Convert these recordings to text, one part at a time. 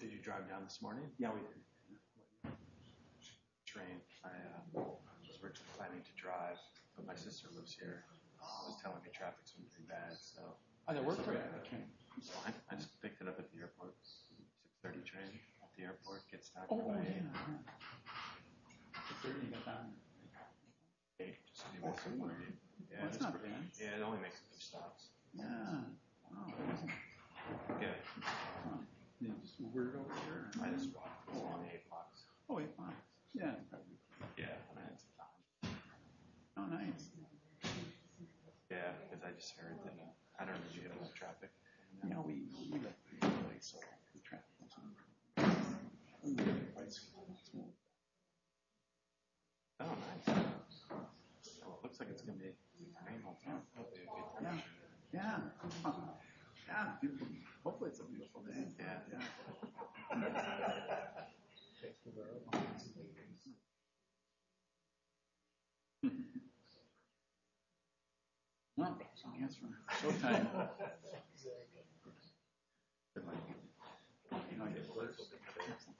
did you drive down this morning? Yeah we did. Train, I was originally planning to drive but my sister lives here and was telling me traffic's going to be bad so. Oh they're working. I just picked it up at the airport. 30 train at the airport gets knocked away. Oh yeah. It's pretty nice. Yeah it only makes a few stops. Yeah. Oh, 8 o'clock. Yeah. Yeah. Oh nice. Yeah because I just heard that. I don't know if you get a lot of traffic. No we don't. We don't. It looks like it's going to be rain all the time. Yeah. Hopefully it's a beautiful day. Yeah. Hopefully it's a beautiful day. Hopefully it's a beautiful day. Hopefully it's a beautiful day. Hopefully it's a beautiful day. Hopefully it's a beautiful day.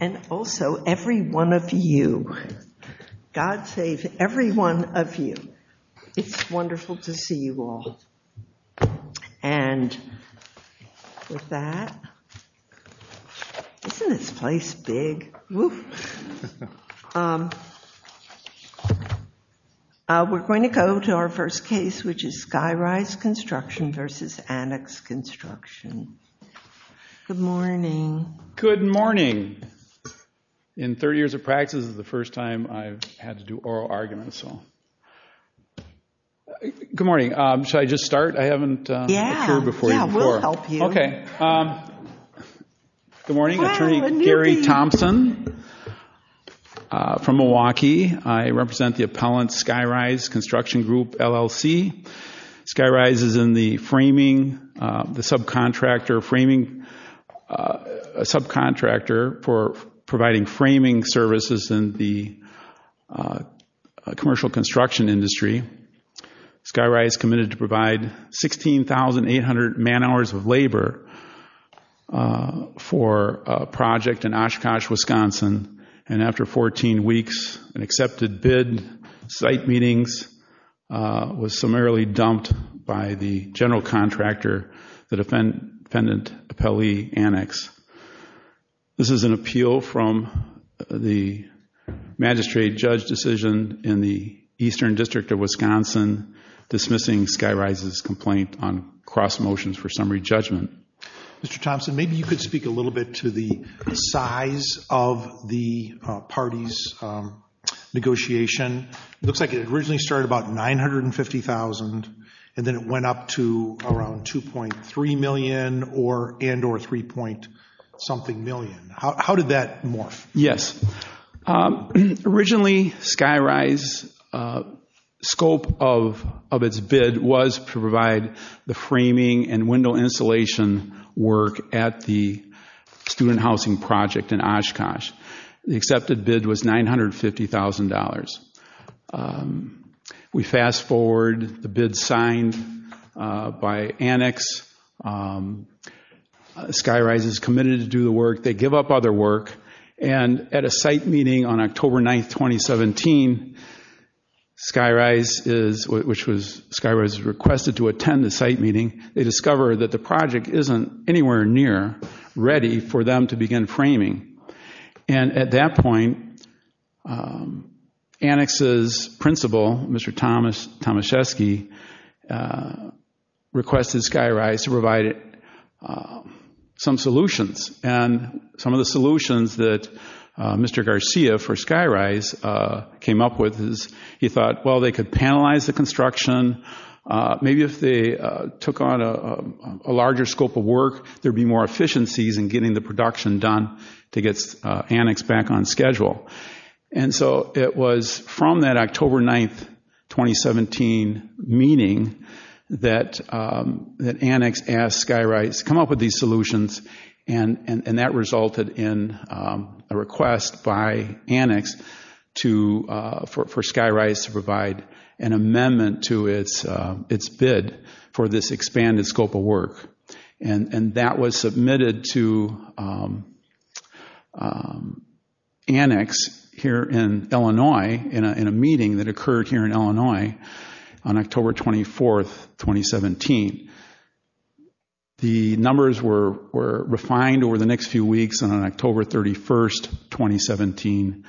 And also every one of you. God save every one of you. It's wonderful to see you all. And with that, isn't this place big? We're going to go to our first case which is Skyrise Construction versus Annex Construction. Good morning. Good morning. In 30 years of practice, this is the first time I've had to do oral arguments. Good morning. Should I just start? I haven't occurred before you before. Yeah, we'll help you. Okay. Good morning. Attorney Gary Thompson from Milwaukee. I represent the appellant Skyrise Construction Group, LLC. Skyrise is in the subcontractor for providing framing services in the commercial construction industry. Skyrise committed to provide 16,800 man hours of labor for a project in Oshkosh, Wisconsin. And after 14 weeks, an accepted bid, site meetings, was summarily dumped by the general contractor, the defendant appellee Annex. This is an appeal from the magistrate judge decision in the Eastern District of Wisconsin, dismissing Skyrise's complaint on cross motions for summary judgment. Mr. Thompson, maybe you could speak a little bit to the size of the party's negotiation. It looks like it originally started about $950,000 and then it went up to around $2.3 million and or $3.something million. How did that morph? Yes. Originally, Skyrise's scope of its bid was to provide the framing and window insulation work at the student housing project in Oshkosh. The accepted bid was $950,000. We fast forward the bid signed by Annex. Skyrise is committed to do the work. They give up other work. And at a site meeting on October 9, 2017, Skyrise is, which was Skyrise requested to attend a site meeting, they discover that the project isn't anywhere near ready for them to begin framing. And at that point, Annex's principal, Mr. Tomaszewski, requested Skyrise to provide some solutions. And some of the solutions that Mr. Garcia for Skyrise came up with is he thought, well, they could penalize the construction. Maybe if they took on a larger scope of work, there would be more efficiencies in getting the production done to get Annex back on schedule. And so it was from that October 9, 2017 meeting that Annex asked Skyrise to come up with these solutions and that resulted in a request by Annex for Skyrise to provide an amendment to its bid for this expanded scope of work. And that was submitted to Annex here in Illinois in a meeting that occurred here in Illinois on October 24, 2017. The numbers were refined over the next few weeks and on October 31, 2017,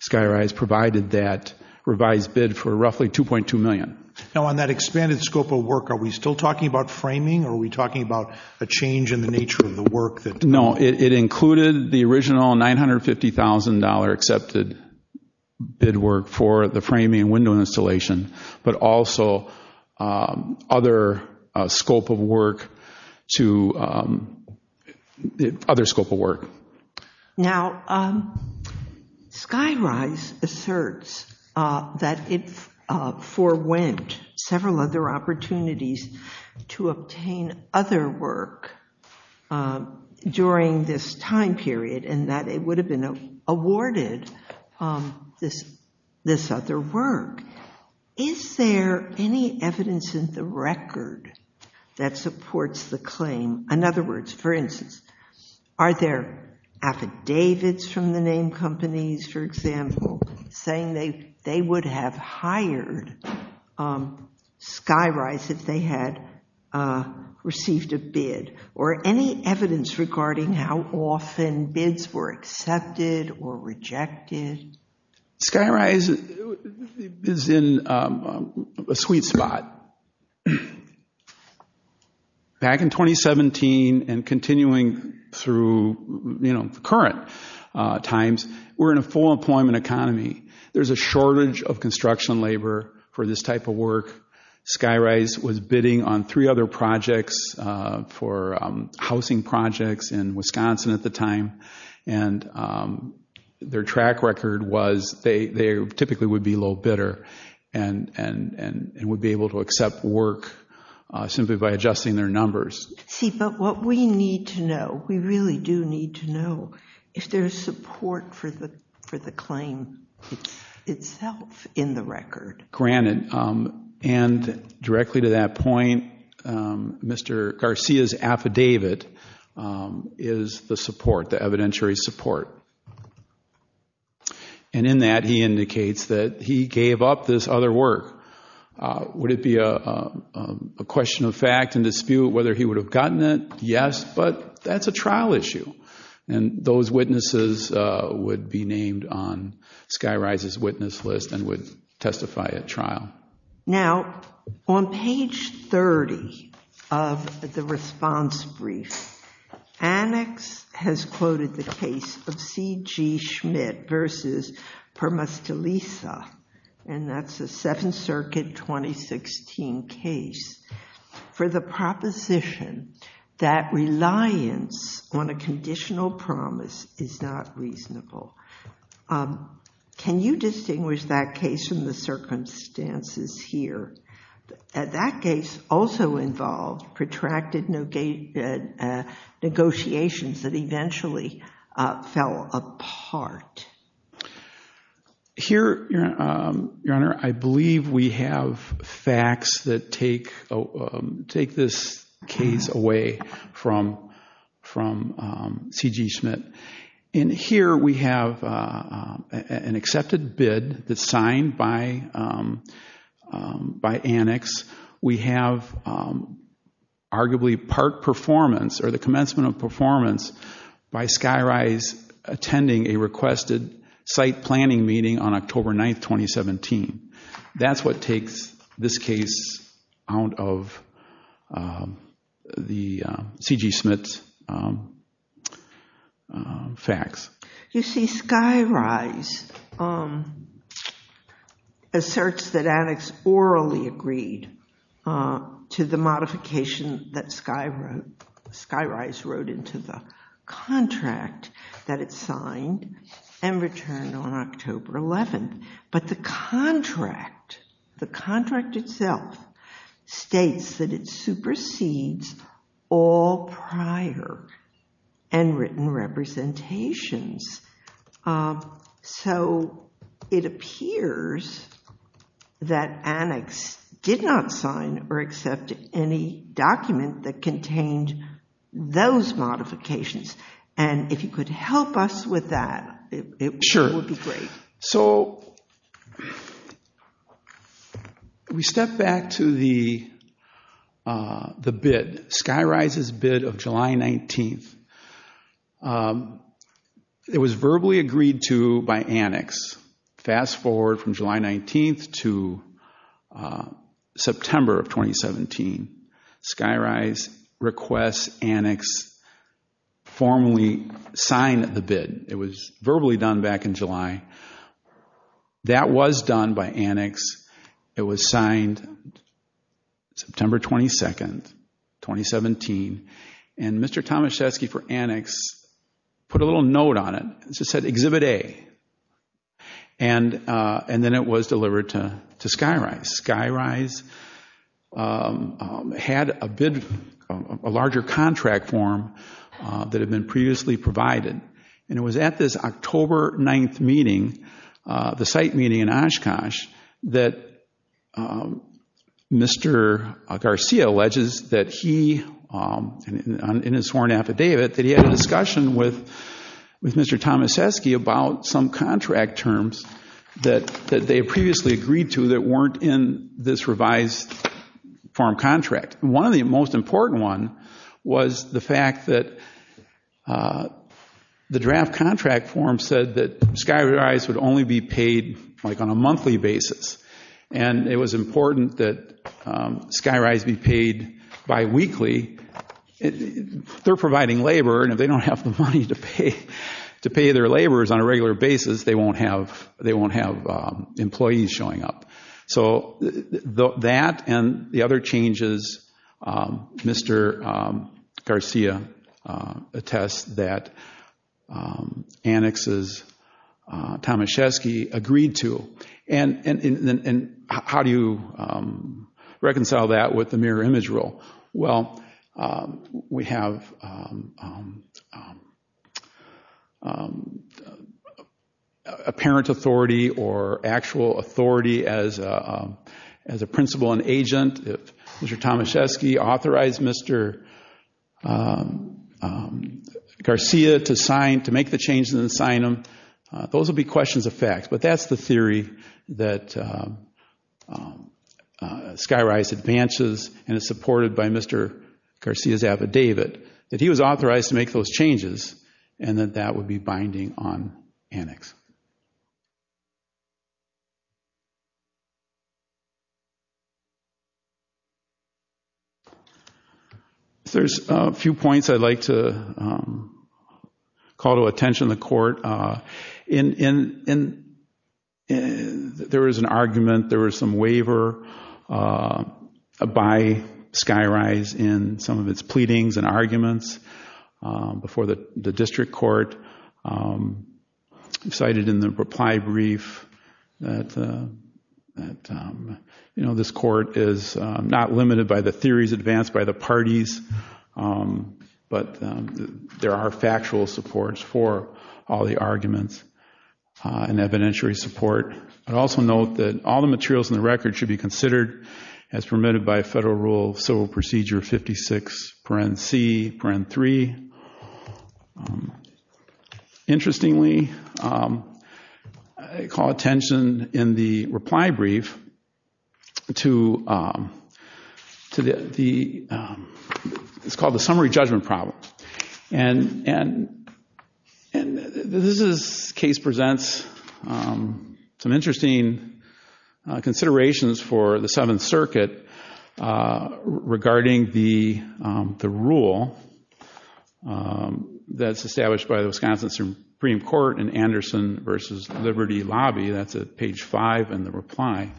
Skyrise provided that revised bid for roughly $2.2 million. Now on that expanded scope of work, are we still talking about framing or are we talking about a change in the nature of the work? No, it included the original $950,000 accepted bid work for the framing and window installation, but also other scope of work. Now Skyrise asserts that it forewent several other opportunities to obtain other work during this time period and that it would have been awarded this other work. Is there any evidence in the record that supports the claim? In other words, for instance, are there affidavits from the name companies, for example, saying they would have hired Skyrise if they had received a bid? Or any evidence regarding how often bids were accepted or rejected? Skyrise is in a sweet spot. Back in 2017 and continuing through current times, we're in a full employment economy. There's a shortage of construction labor for this type of work. Skyrise was bidding on three other projects for housing projects in Wisconsin at the time, and their track record was they typically would be low bidder and would be able to accept work simply by adjusting their numbers. See, but what we need to know, we really do need to know, if there's support for the claim itself in the record. Granted, and directly to that point, Mr. Garcia's affidavit is the support, the evidentiary support. And in that he indicates that he gave up this other work. Would it be a question of fact and dispute whether he would have gotten it? Yes, but that's a trial issue. And those witnesses would be named on Skyrise's witness list and would testify at trial. Now, on page 30 of the response brief, Annex has quoted the case of C.G. Schmidt v. Permastilisa, and that's a Seventh Circuit 2016 case, for the proposition that reliance on a conditional promise is not reasonable. Can you distinguish that case from the circumstances here? That case also involved protracted negotiations that eventually fell apart. Here, Your Honor, I believe we have facts that take this case away from C.G. Schmidt. And here we have an accepted bid that's signed by Annex. We have arguably part performance or the commencement of performance by Skyrise attending a requested site planning meeting on October 9, 2017. That's what takes this case out of C.G. Schmidt's facts. You see, Skyrise asserts that Annex orally agreed to the modification that Skyrise wrote into the contract that it signed and returned on October 11. But the contract, the contract itself, states that it supersedes all prior and written representations. So it appears that Annex did not sign or accept any document that contained those modifications. And if you could help us with that, it would be great. So we step back to the bid, Skyrise's bid of July 19th. It was verbally agreed to by Annex. Fast forward from July 19th to September of 2017. Skyrise requests Annex formally sign the bid. It was verbally done back in July. That was done by Annex. It was signed September 22, 2017. And Mr. Tomaszewski for Annex put a little note on it. It just said Exhibit A. And then it was delivered to Skyrise. Skyrise had a larger contract form that had been previously provided. And it was at this October 9th meeting, the site meeting in Oshkosh, that Mr. Garcia alleges that he, in his sworn affidavit, that he had a discussion with Mr. Tomaszewski about some contract terms that they had previously agreed to that weren't in this revised form contract. And one of the most important ones was the fact that the draft contract form said that Skyrise would only be paid on a monthly basis. And it was important that Skyrise be paid biweekly. They're providing labor, and if they don't have the money to pay their laborers on a regular basis, they won't have employees showing up. So that and the other changes Mr. Garcia attests that Annex's Tomaszewski agreed to. And how do you reconcile that with the mirror image rule? Well, we have apparent authority or actual authority as a principal and agent. If Mr. Tomaszewski authorized Mr. Garcia to make the changes and sign them, those would be questions of facts. But that's the theory that Skyrise advances and is supported by Mr. Garcia's affidavit, that he was authorized to make those changes and that that would be binding on Annex. There's a few points I'd like to call to attention in the court. There was an argument, there was some waiver by Skyrise in some of its pleadings and arguments before the district court. I cited in the reply brief that this court is not limited by the theories advanced by the parties, but there are factual supports for all the arguments and evidentiary support. I'd also note that all the materials in the record should be considered as permitted by federal rule of civil procedure 56, paren c, paren 3. Interestingly, I call attention in the reply brief to what's called the summary judgment problem. And this case presents some interesting considerations for the Seventh Circuit regarding the rule that's established by the Wisconsin Supreme Court in Anderson v. Liberty Lobby, that's at page 5 in the reply.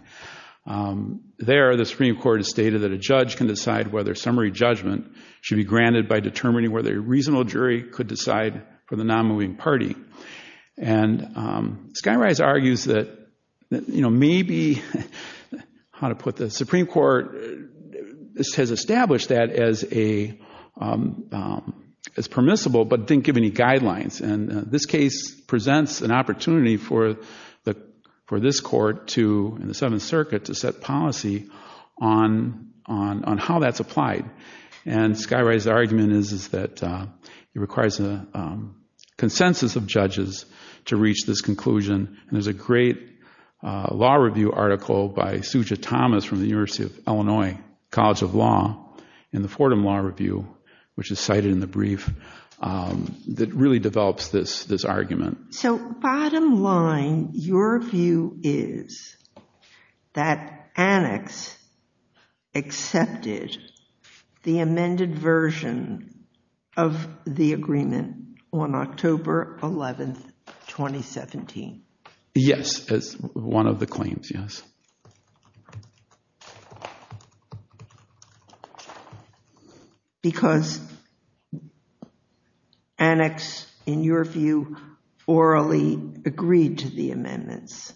There, the Supreme Court has stated that a judge can decide whether summary judgment should be granted by determining whether a reasonable jury could decide for the non-moving party. And Skyrise argues that maybe, how to put this, the Supreme Court has established that as permissible, but didn't give any guidelines. And this case presents an opportunity for this court to, in the Seventh Circuit, to set policy on how that's applied. And Skyrise's argument is that it requires a consensus of judges to reach this conclusion. And there's a great law review article by Suja Thomas from the University of Illinois College of Law in the Fordham Law Review, which is cited in the brief, that really develops this argument. So bottom line, your view is that Annex accepted the amended version of the agreement on October 11, 2017. Yes, as one of the claims, yes. Because Annex, in your view, orally agreed to the amendments?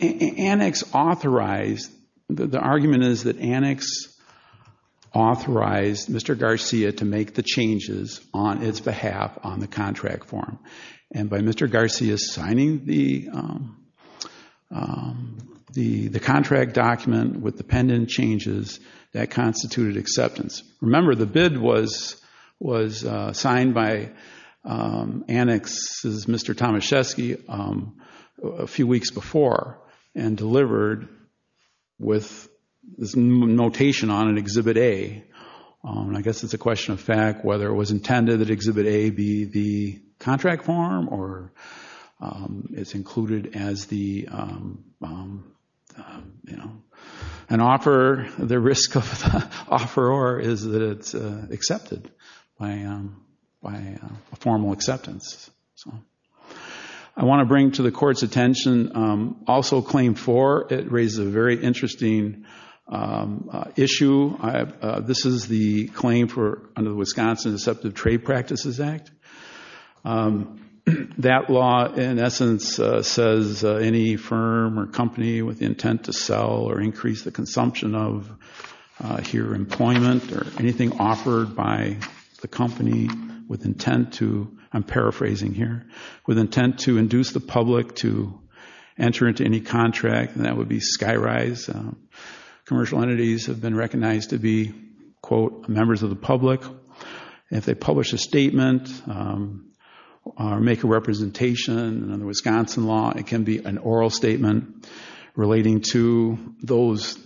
Annex authorized, the argument is that Annex authorized Mr. Garcia to make the changes on its behalf on the contract form. And by Mr. Garcia signing the contract document with the pendant changes, that constituted acceptance. Remember, the bid was signed by Annex's Mr. Tomaszewski a few weeks before and delivered with this notation on an Exhibit A. I guess it's a question of fact whether it was intended that Exhibit A be the contract form or it's included as the, you know, an offer, the risk of the offeror is that it's accepted by formal acceptance. So I want to bring to the Court's attention also Claim 4. It raises a very interesting issue. This is the claim under the Wisconsin Deceptive Trade Practices Act. That law, in essence, says any firm or company with the intent to sell or increase the consumption of, here, employment or anything offered by the company with intent to, I'm paraphrasing here, with intent to induce the public to enter into any contract, that would be sky-rise. Commercial entities have been recognized to be, quote, members of the public. If they publish a statement or make a representation under Wisconsin law, it can be an oral statement relating to those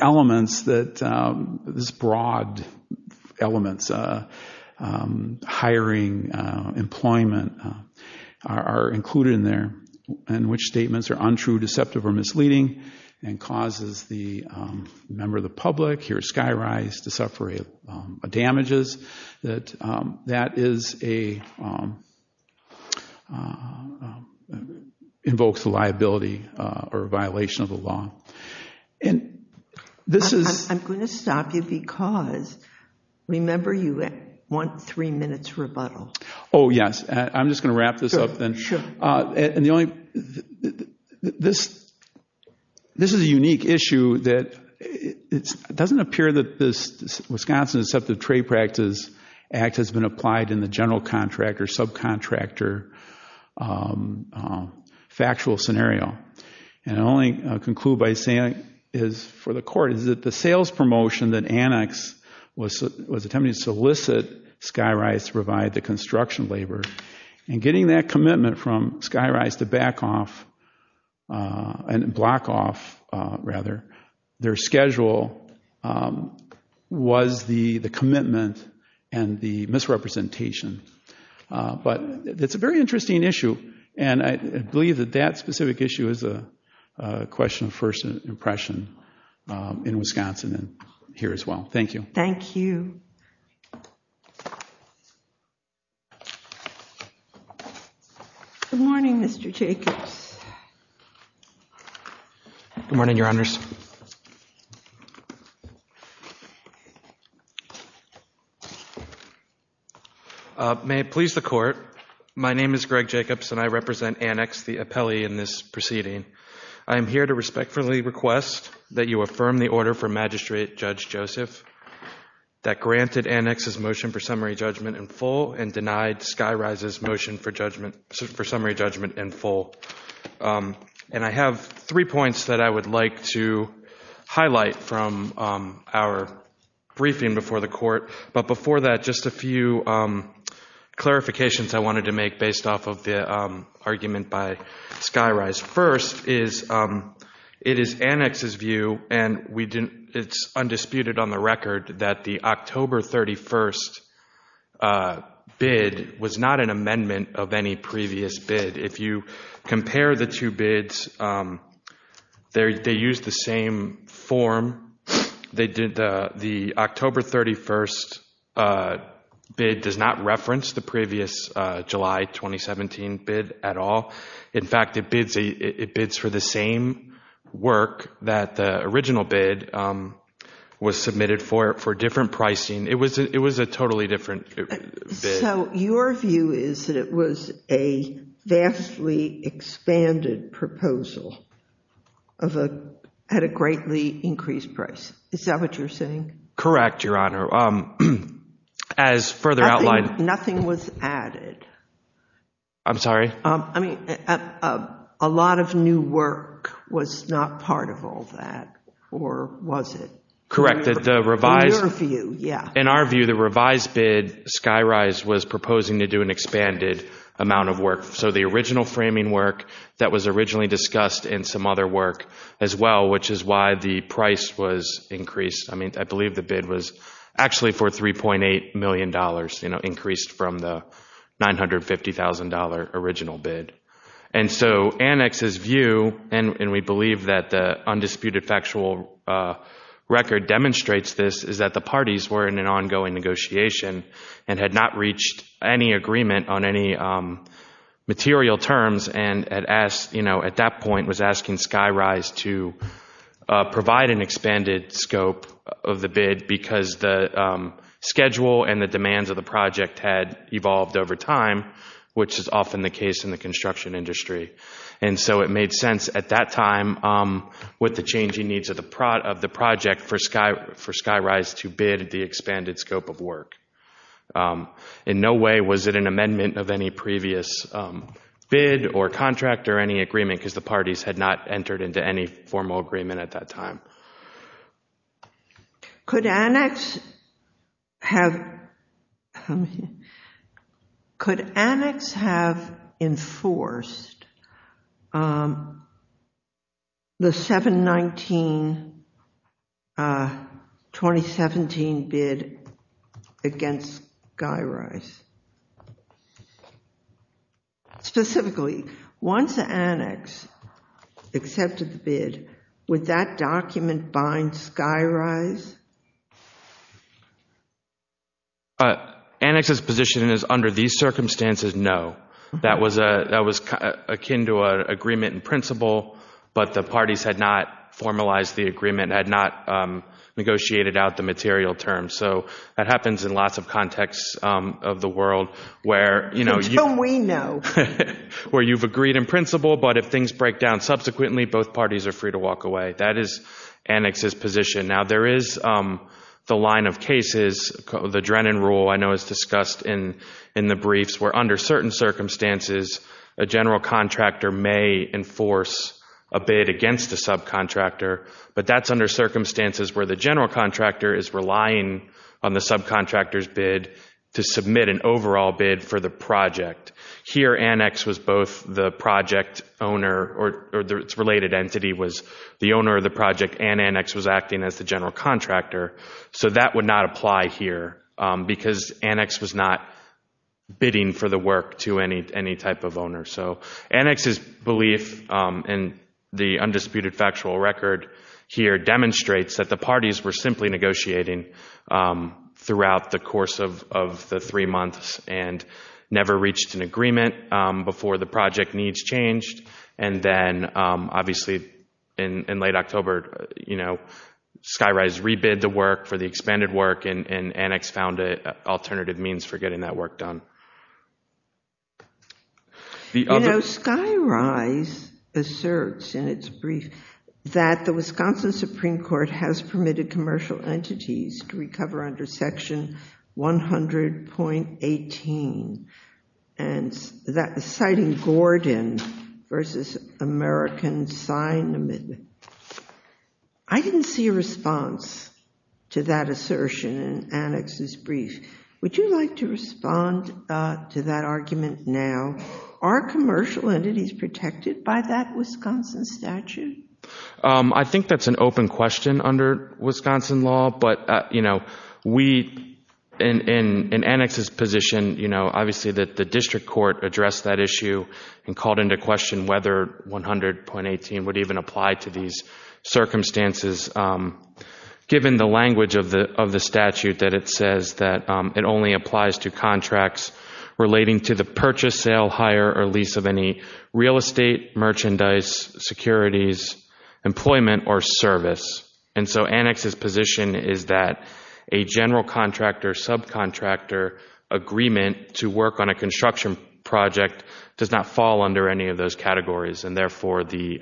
elements, these broad elements, hiring, employment, are included in there, and which statements are untrue, deceptive, or misleading and causes the member of the public, here, sky-rise, to suffer damages, that that is a, invokes a liability or a violation of the law. And this is... I'm going to stop you because, remember, you want three minutes rebuttal. Oh, yes. I'm just going to wrap this up then. Sure. And the only, this is a unique issue that it doesn't appear that this Wisconsin Deceptive Trade Practices Act has been applied in the general contract or subcontractor factual scenario. And I'll only conclude by saying, for the court, is that the sales promotion that Annex was attempting to solicit sky-rise to provide the construction labor, and getting that commitment from sky-rise to back off, and block off, rather, their schedule was the commitment and the misrepresentation. But it's a very interesting issue. And I believe that that specific issue is a question of first impression in Wisconsin and here as well. Thank you. Thank you. Good morning, Mr. Jacobs. Good morning, Your Honors. May it please the court, my name is Greg Jacobs, and I represent Annex, the appellee in this proceeding. I am here to respectfully request that you affirm the order for Magistrate Judge Joseph that granted Annex's motion for summary judgment in full and denied sky-rise's motion for summary judgment in full. And I have three points that I would like to highlight from our briefing before the court. But before that, just a few clarifications I wanted to make based off of the argument by sky-rise. First, it is Annex's view, and it's undisputed on the record, that the October 31st bid was not an amendment of any previous bid. If you compare the two bids, they use the same form. The October 31st bid does not reference the previous July 2017 bid at all. In fact, it bids for the same work that the original bid was submitted for different pricing. It was a totally different bid. So your view is that it was a vastly expanded proposal at a greatly increased price. Is that what you're saying? Correct, Your Honor. As further outlined— Nothing was added. I'm sorry? I mean, a lot of new work was not part of all that, or was it? Correct. In your view, yeah. In our view, the revised bid, sky-rise was proposing to do an expanded amount of work. So the original framing work that was originally discussed in some other work as well, which is why the price was increased. I believe the bid was actually for $3.8 million, increased from the $950,000 original bid. And so Annex's view, and we believe that the undisputed factual record demonstrates this, is that the parties were in an ongoing negotiation and had not reached any agreement on any material terms and at that point was asking Sky-Rise to provide an expanded scope of the bid because the schedule and the demands of the project had evolved over time, which is often the case in the construction industry. And so it made sense at that time with the changing needs of the project for Sky-Rise to bid the expanded scope of work. In no way was it an amendment of any previous bid or contract or any agreement because the parties had not entered into any formal agreement at that time. Could Annex have enforced the 7-19-2017 bid against Sky-Rise? Specifically, once Annex accepted the bid, would that document bind Sky-Rise? Annex's position is under these circumstances, no. That was akin to an agreement in principle, but the parties had not formalized the agreement, had not negotiated out the material terms. So that happens in lots of contexts of the world where you've agreed in principle, but if things break down subsequently, both parties are free to walk away. That is Annex's position. Now there is the line of cases, the Drennan rule I know is discussed in the briefs, where under certain circumstances a general contractor may enforce a bid against a subcontractor, but that's under circumstances where the general contractor is relying on the subcontractor's bid to submit an overall bid for the project. Here Annex was both the project owner or its related entity was the owner of the project and Annex was acting as the general contractor. So that would not apply here because Annex was not bidding for the work to any type of owner. So Annex's belief in the undisputed factual record here demonstrates that the parties were simply negotiating throughout the course of the three months and never reached an agreement before the project needs changed and then obviously in late October, you know, Skyrise rebid the work for the expanded work and Annex found an alternative means for getting that work done. You know, Skyrise asserts in its brief that the Wisconsin Supreme Court has permitted commercial entities to recover under Section 100.18 and that was citing Gordon versus American Sign Amendment. I didn't see a response to that assertion in Annex's brief. Would you like to respond to that argument now? Are commercial entities protected by that Wisconsin statute? I think that's an open question under Wisconsin law, but, you know, we in Annex's position, you know, obviously the district court addressed that issue and called into question whether 100.18 would even apply to these circumstances given the language of the statute that it says that it only applies to contracts relating to the purchase, sale, hire, or lease of any real estate, merchandise, securities, employment, or service. And so Annex's position is that a general contractor, subcontractor agreement to work on a construction project does not fall under any of those categories and therefore the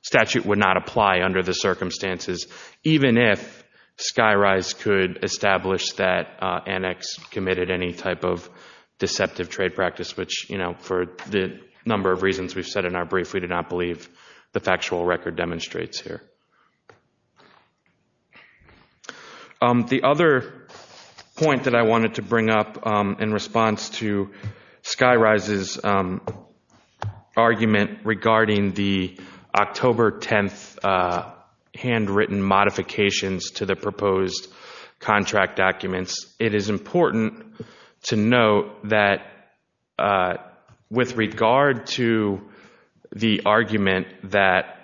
statute would not apply under the circumstances even if Skyrise could establish that Annex committed any type of deceptive trade practice, which, you know, for the number of reasons we've said in our brief, we do not believe the factual record demonstrates here. The other point that I wanted to bring up in response to Skyrise's argument regarding the October 10th handwritten modifications to the proposed contract documents, it is important to note that with regard to the argument that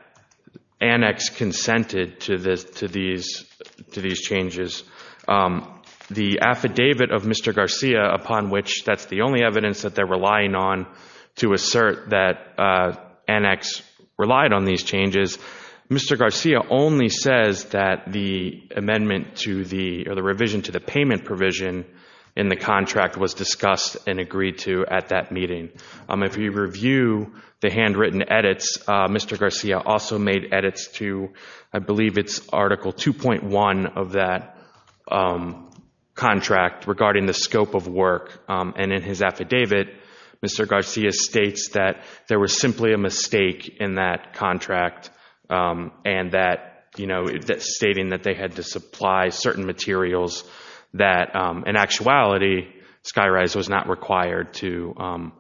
Annex consented to these changes, the affidavit of Mr. Garcia upon which that's the only evidence that they're relying on to assert that Annex relied on these changes, Mr. Garcia only says that the amendment to the, or the revision to the payment provision in the contract was discussed and agreed to at that meeting. If you review the handwritten edits, Mr. Garcia also made edits to, I believe it's Article 2.1 of that contract regarding the scope of work, and in his affidavit, Mr. Garcia states that there was simply a mistake in that contract and that, you know, stating that they had to supply certain materials that, in actuality, Skyrise was not required to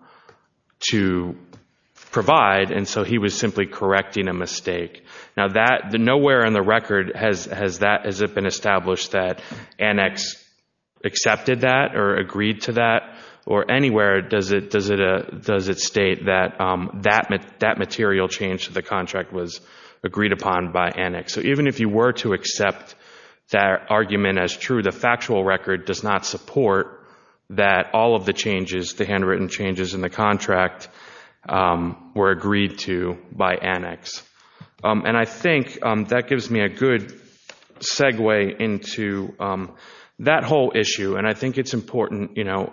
provide, and so he was simply correcting a mistake. Now, nowhere in the record has it been established that Annex accepted that So even if you were to accept that argument as true, the factual record does not support that all of the changes, the handwritten changes in the contract, were agreed to by Annex. And I think that gives me a good segue into that whole issue, and I think it's important, you know,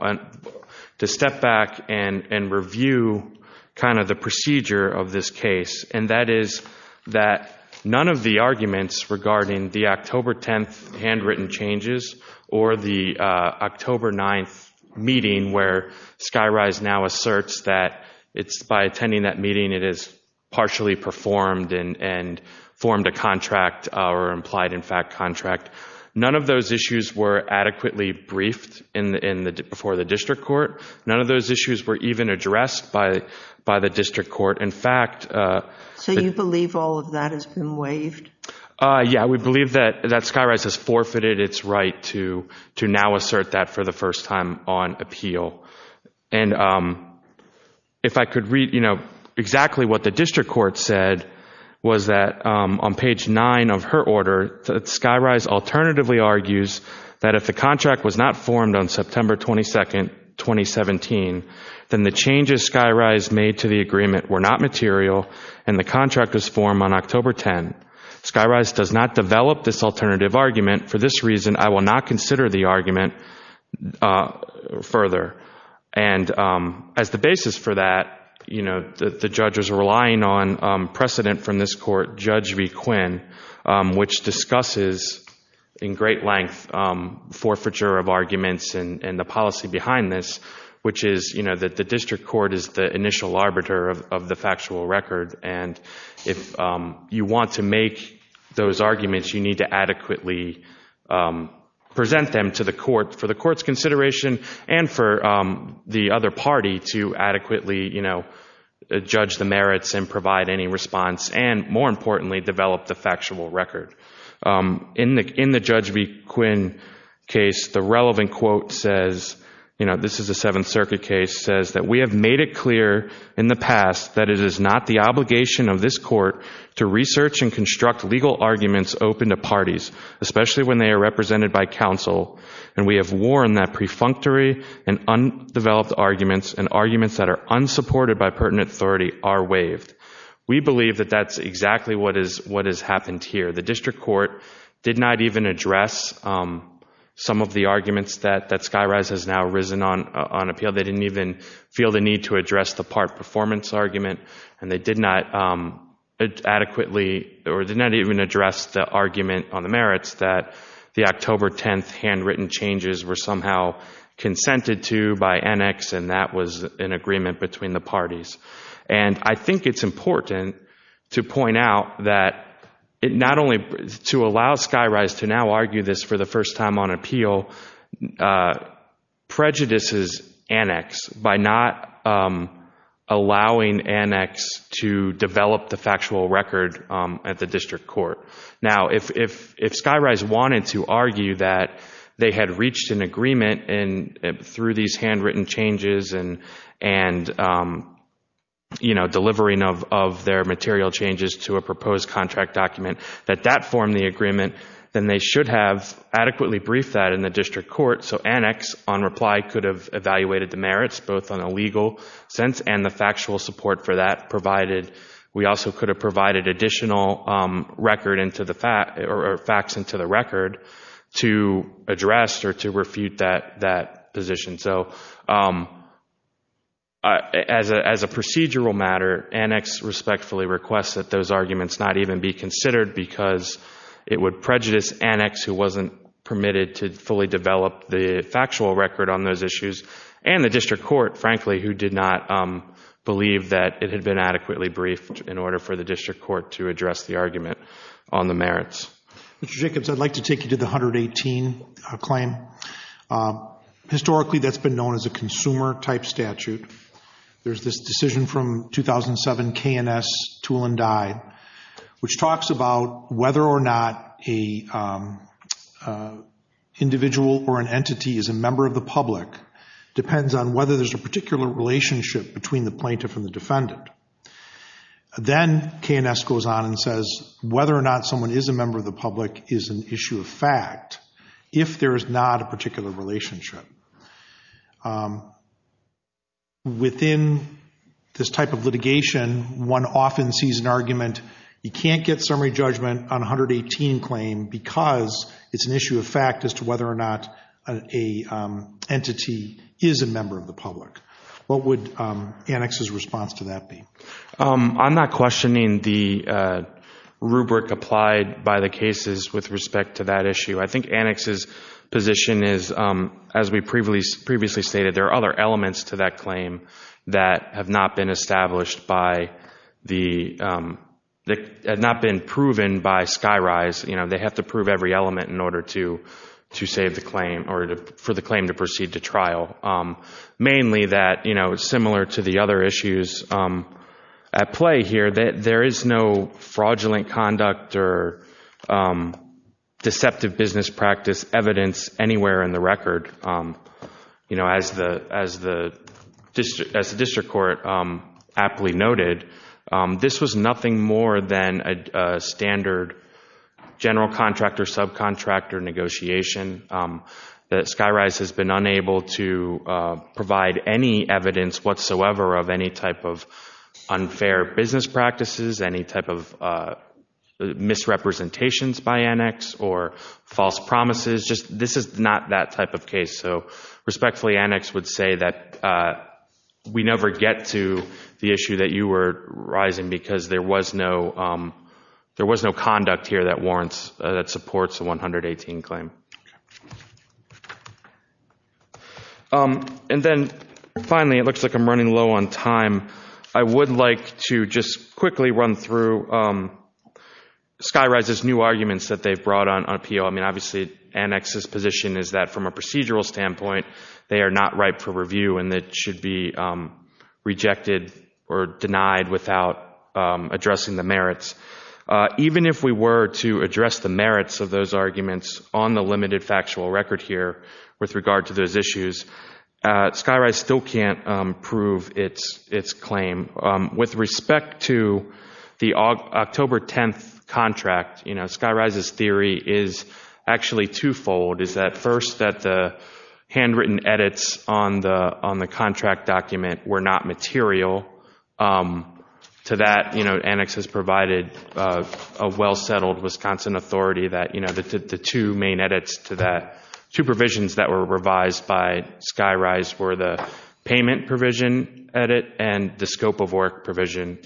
to step back and review kind of the procedure of this case, and that is that none of the arguments regarding the October 10th handwritten changes or the October 9th meeting where Skyrise now asserts that it's, by attending that meeting, it is partially performed and formed a contract or implied in fact contract, none of those issues were adequately briefed before the district court. None of those issues were even addressed by the district court. In fact— So you believe all of that has been waived? Yeah, we believe that Skyrise has forfeited its right to now assert that for the first time on appeal. And if I could read, you know, exactly what the district court said was that on page 9 of her order, Skyrise alternatively argues that if the contract was not formed on September 22nd, 2017, then the changes Skyrise made to the agreement were not material and the contract was formed on October 10. Skyrise does not develop this alternative argument. For this reason, I will not consider the argument further. And as the basis for that, you know, the judge is relying on precedent from this court, Judge V. Quinn, which discusses in great length forfeiture of arguments and the policy behind this, which is, you know, that the district court is the initial arbiter of the factual record, and if you want to make those arguments, you need to adequately present them to the court for the court's consideration and for the other party to adequately, you know, judge the merits and provide any response and, more importantly, develop the factual record. In the Judge V. Quinn case, the relevant quote says, you know, this is a Seventh Circuit case, says that we have made it clear in the past that it is not the obligation of this court to research and construct legal arguments open to parties, especially when they are represented by counsel, and we have warned that pre-functory and undeveloped arguments and arguments that are unsupported by pertinent authority are waived. We believe that that's exactly what has happened here. The district court did not even address some of the arguments that Skyrise has now risen on appeal. They didn't even feel the need to address the part performance argument, and they did not adequately or did not even address the argument on the merits that the October 10th handwritten changes were somehow consented to by Annex, and that was an agreement between the parties. And I think it's important to point out that not only to allow Skyrise to now argue this for the first time on appeal, it also prejudices Annex by not allowing Annex to develop the factual record at the district court. Now, if Skyrise wanted to argue that they had reached an agreement through these handwritten changes and, you know, delivering of their material changes to a proposed contract document, that that formed the agreement, then they should have adequately briefed that in the district court so Annex, on reply, could have evaluated the merits, both on a legal sense and the factual support for that, provided we also could have provided additional record or facts into the record to address or to refute that position. So as a procedural matter, Annex respectfully requests that those arguments not even be considered because it would prejudice Annex, who wasn't permitted to fully develop the factual record on those issues, and the district court, frankly, who did not believe that it had been adequately briefed in order for the district court to address the argument on the merits. Mr. Jacobs, I'd like to take you to the 118 claim. Historically, that's been known as a consumer-type statute. There's this decision from 2007, K&S, Tool and Die, which talks about whether or not an individual or an entity is a member of the public depends on whether there's a particular relationship between the plaintiff and the defendant. Then K&S goes on and says whether or not someone is a member of the public is an issue of fact. If there is not a particular relationship, within this type of litigation, one often sees an argument, you can't get summary judgment on 118 claim because it's an issue of fact as to whether or not an entity is a member of the public. What would Annex's response to that be? I'm not questioning the rubric applied by the cases with respect to that issue. I think Annex's position is, as we previously stated, there are other elements to that claim that have not been established by the—that have not been proven by Skyrise. They have to prove every element in order to save the claim or for the claim to proceed to trial. Mainly that, similar to the other issues at play here, there is no fraudulent conduct or deceptive business practice evidence anywhere in the record. As the district court aptly noted, this was nothing more than a standard general contractor, subcontractor negotiation. Skyrise has been unable to provide any evidence whatsoever of any type of unfair business practices, any type of misrepresentations by Annex or false promises. This is not that type of case. Respectfully, Annex would say that we never get to the issue that you were raising because there was no conduct here that warrants—that supports the 118 claim. And then finally, it looks like I'm running low on time. I would like to just quickly run through Skyrise's new arguments that they've brought on appeal. I mean, obviously, Annex's position is that from a procedural standpoint, they are not ripe for review and that should be rejected or denied without addressing the merits. Even if we were to address the merits of those arguments on the limited factual record here with regard to those issues, Skyrise still can't prove its claim. With respect to the October 10th contract, Skyrise's theory is actually twofold. It's that first that the handwritten edits on the contract document were not material. To that, Annex has provided a well-settled Wisconsin authority that the two main edits to that, two provisions that were revised by Skyrise were the payment provision edit and the scope of work provision.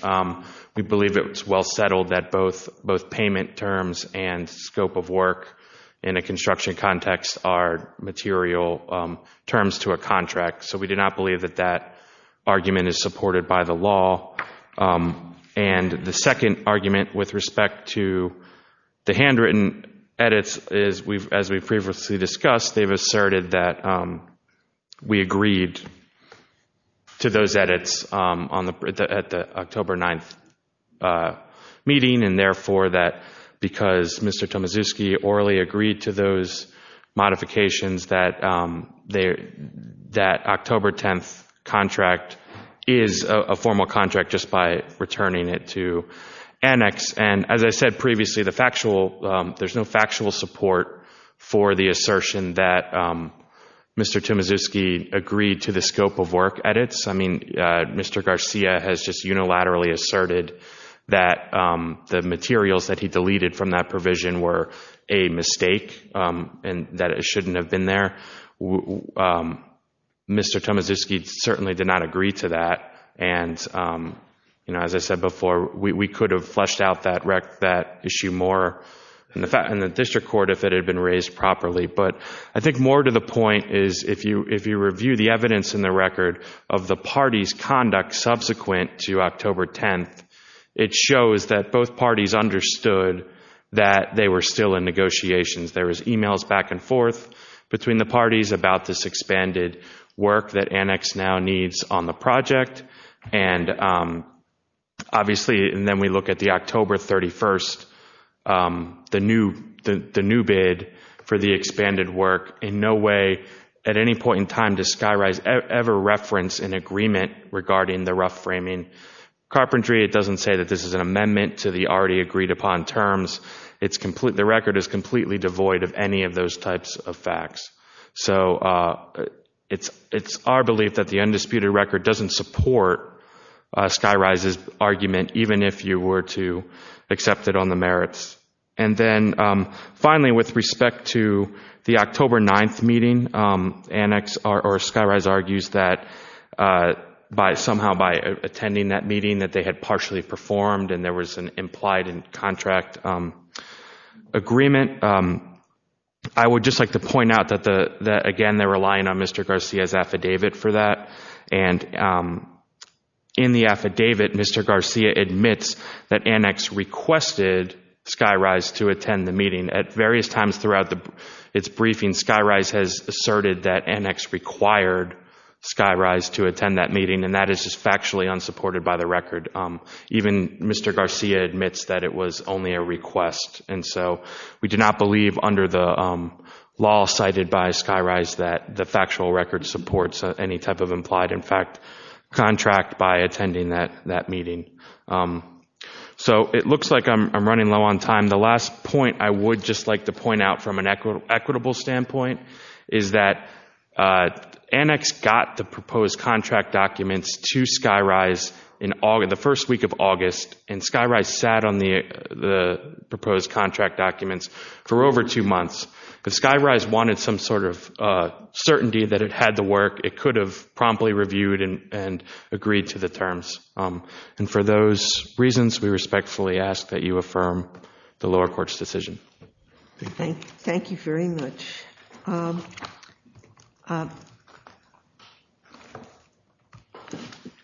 We believe it was well-settled that both payment terms and scope of work in a construction context are material terms to a contract, so we do not believe that that argument is supported by the law. And the second argument with respect to the handwritten edits is, as we've previously discussed, they've asserted that we agreed to those edits at the October 9th meeting, and therefore that because Mr. Tomaszewski orally agreed to those modifications, that October 10th contract is a formal contract just by returning it to Annex. And as I said previously, there's no factual support for the assertion that Mr. Tomaszewski agreed to the scope of work edits. I mean, Mr. Garcia has just unilaterally asserted that the materials that he deleted from that provision were a mistake and that it shouldn't have been there. Mr. Tomaszewski certainly did not agree to that. And, you know, as I said before, we could have fleshed out that issue more in the district court if it had been raised properly. But I think more to the point is if you review the evidence in the record of the parties' conduct subsequent to October 10th, it shows that both parties understood that they were still in negotiations. There was emails back and forth between the parties about this expanded work that Annex now needs on the project. And obviously, and then we look at the October 31st, the new bid for the expanded work, in no way at any point in time does Skyrise ever reference an agreement regarding the rough framing. Carpentry, it doesn't say that this is an amendment to the already agreed upon terms. The record is completely devoid of any of those types of facts. So it's our belief that the undisputed record doesn't support Skyrise's argument, even if you were to accept it on the merits. And then finally, with respect to the October 9th meeting, Annex or Skyrise argues that somehow by attending that meeting that they had partially performed and there was an implied contract agreement, I would just like to point out that, again, they're relying on Mr. Garcia's affidavit for that. And in the affidavit, Mr. Garcia admits that Annex requested Skyrise to attend the meeting. At various times throughout its briefing, Skyrise has asserted that Annex required Skyrise to attend that meeting, and that is just factually unsupported by the record. Even Mr. Garcia admits that it was only a request. And so we do not believe under the law cited by Skyrise that the factual record supports any type of implied in fact contract by attending that meeting. So it looks like I'm running low on time. The last point I would just like to point out from an equitable standpoint is that Annex got the proposed contract documents to Skyrise in the first week of August, and Skyrise sat on the proposed contract documents for over two months. But Skyrise wanted some sort of certainty that it had the work. It could have promptly reviewed and agreed to the terms. And for those reasons, we respectfully ask that you affirm the lower court's decision. Thank you very much.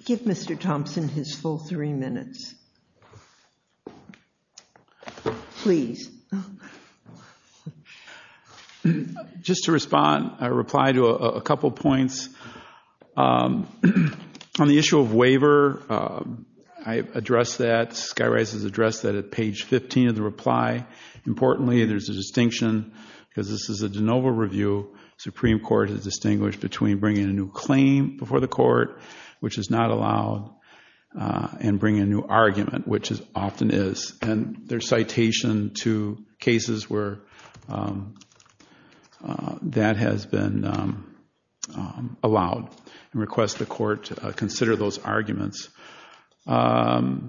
Give Mr. Thompson his full three minutes. Please. Just to respond, I reply to a couple points. On the issue of waiver, I addressed that. Skyrise has addressed that at page 15 of the reply. Importantly, there's a distinction because this is a de novo review. Supreme Court has distinguished between bringing a new claim before the court, which is not allowed, and bringing a new argument, which often is. And there's citation to cases where that has been allowed. I request the court consider those arguments. There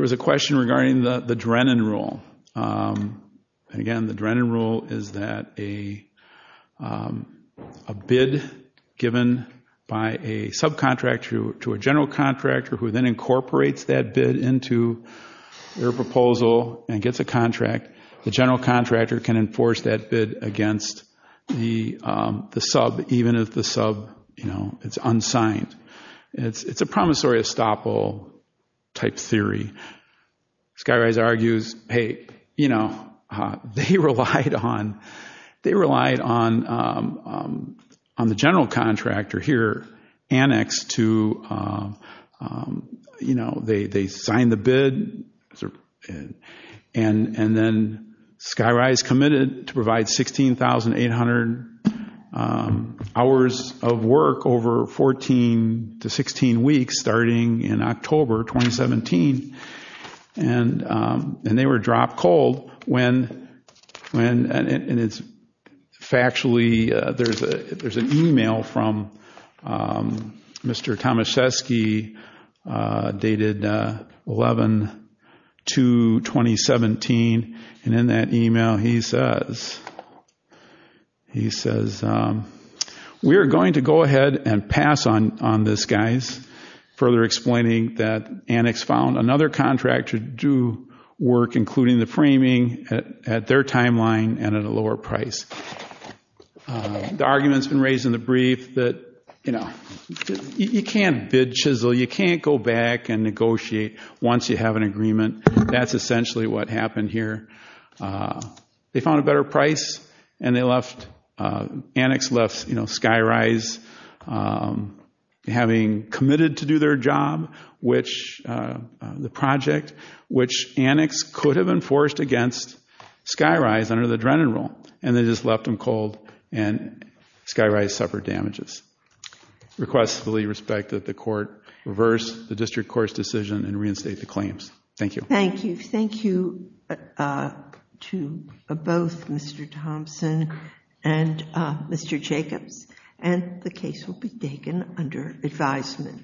was a question regarding the Drennan rule. Again, the Drennan rule is that a bid given by a subcontractor to a general contractor who then incorporates that bid into their proposal and gets a contract, the general contractor can enforce that bid against the sub, even if the sub is unsigned. It's a promissory estoppel type theory. Skyrise argues, hey, they relied on the general contractor here, Annex, to sign the bid. And then Skyrise committed to provide 16,800 hours of work over 14 to 16 weeks starting in October 2017. And they were dropped cold when, and it's factually, there's an email from Mr. Tomaszewski dated 11-2-2017. And in that email, he says, we are going to go ahead and pass on this, guys, further explaining that Annex found another contractor to do work, at their timeline and at a lower price. The argument's been raised in the brief that you can't bid-chisel, you can't go back and negotiate once you have an agreement. That's essentially what happened here. They found a better price and they left, Annex left Skyrise having committed to do their job, the project, which Annex could have enforced against Skyrise under the Drennan rule. And they just left them cold and Skyrise suffered damages. Request fully respect that the court reverse the district court's decision and reinstate the claims. Thank you. Thank you. Thank you to both Mr. Thompson and Mr. Jacobs. And the case will be taken under advisement.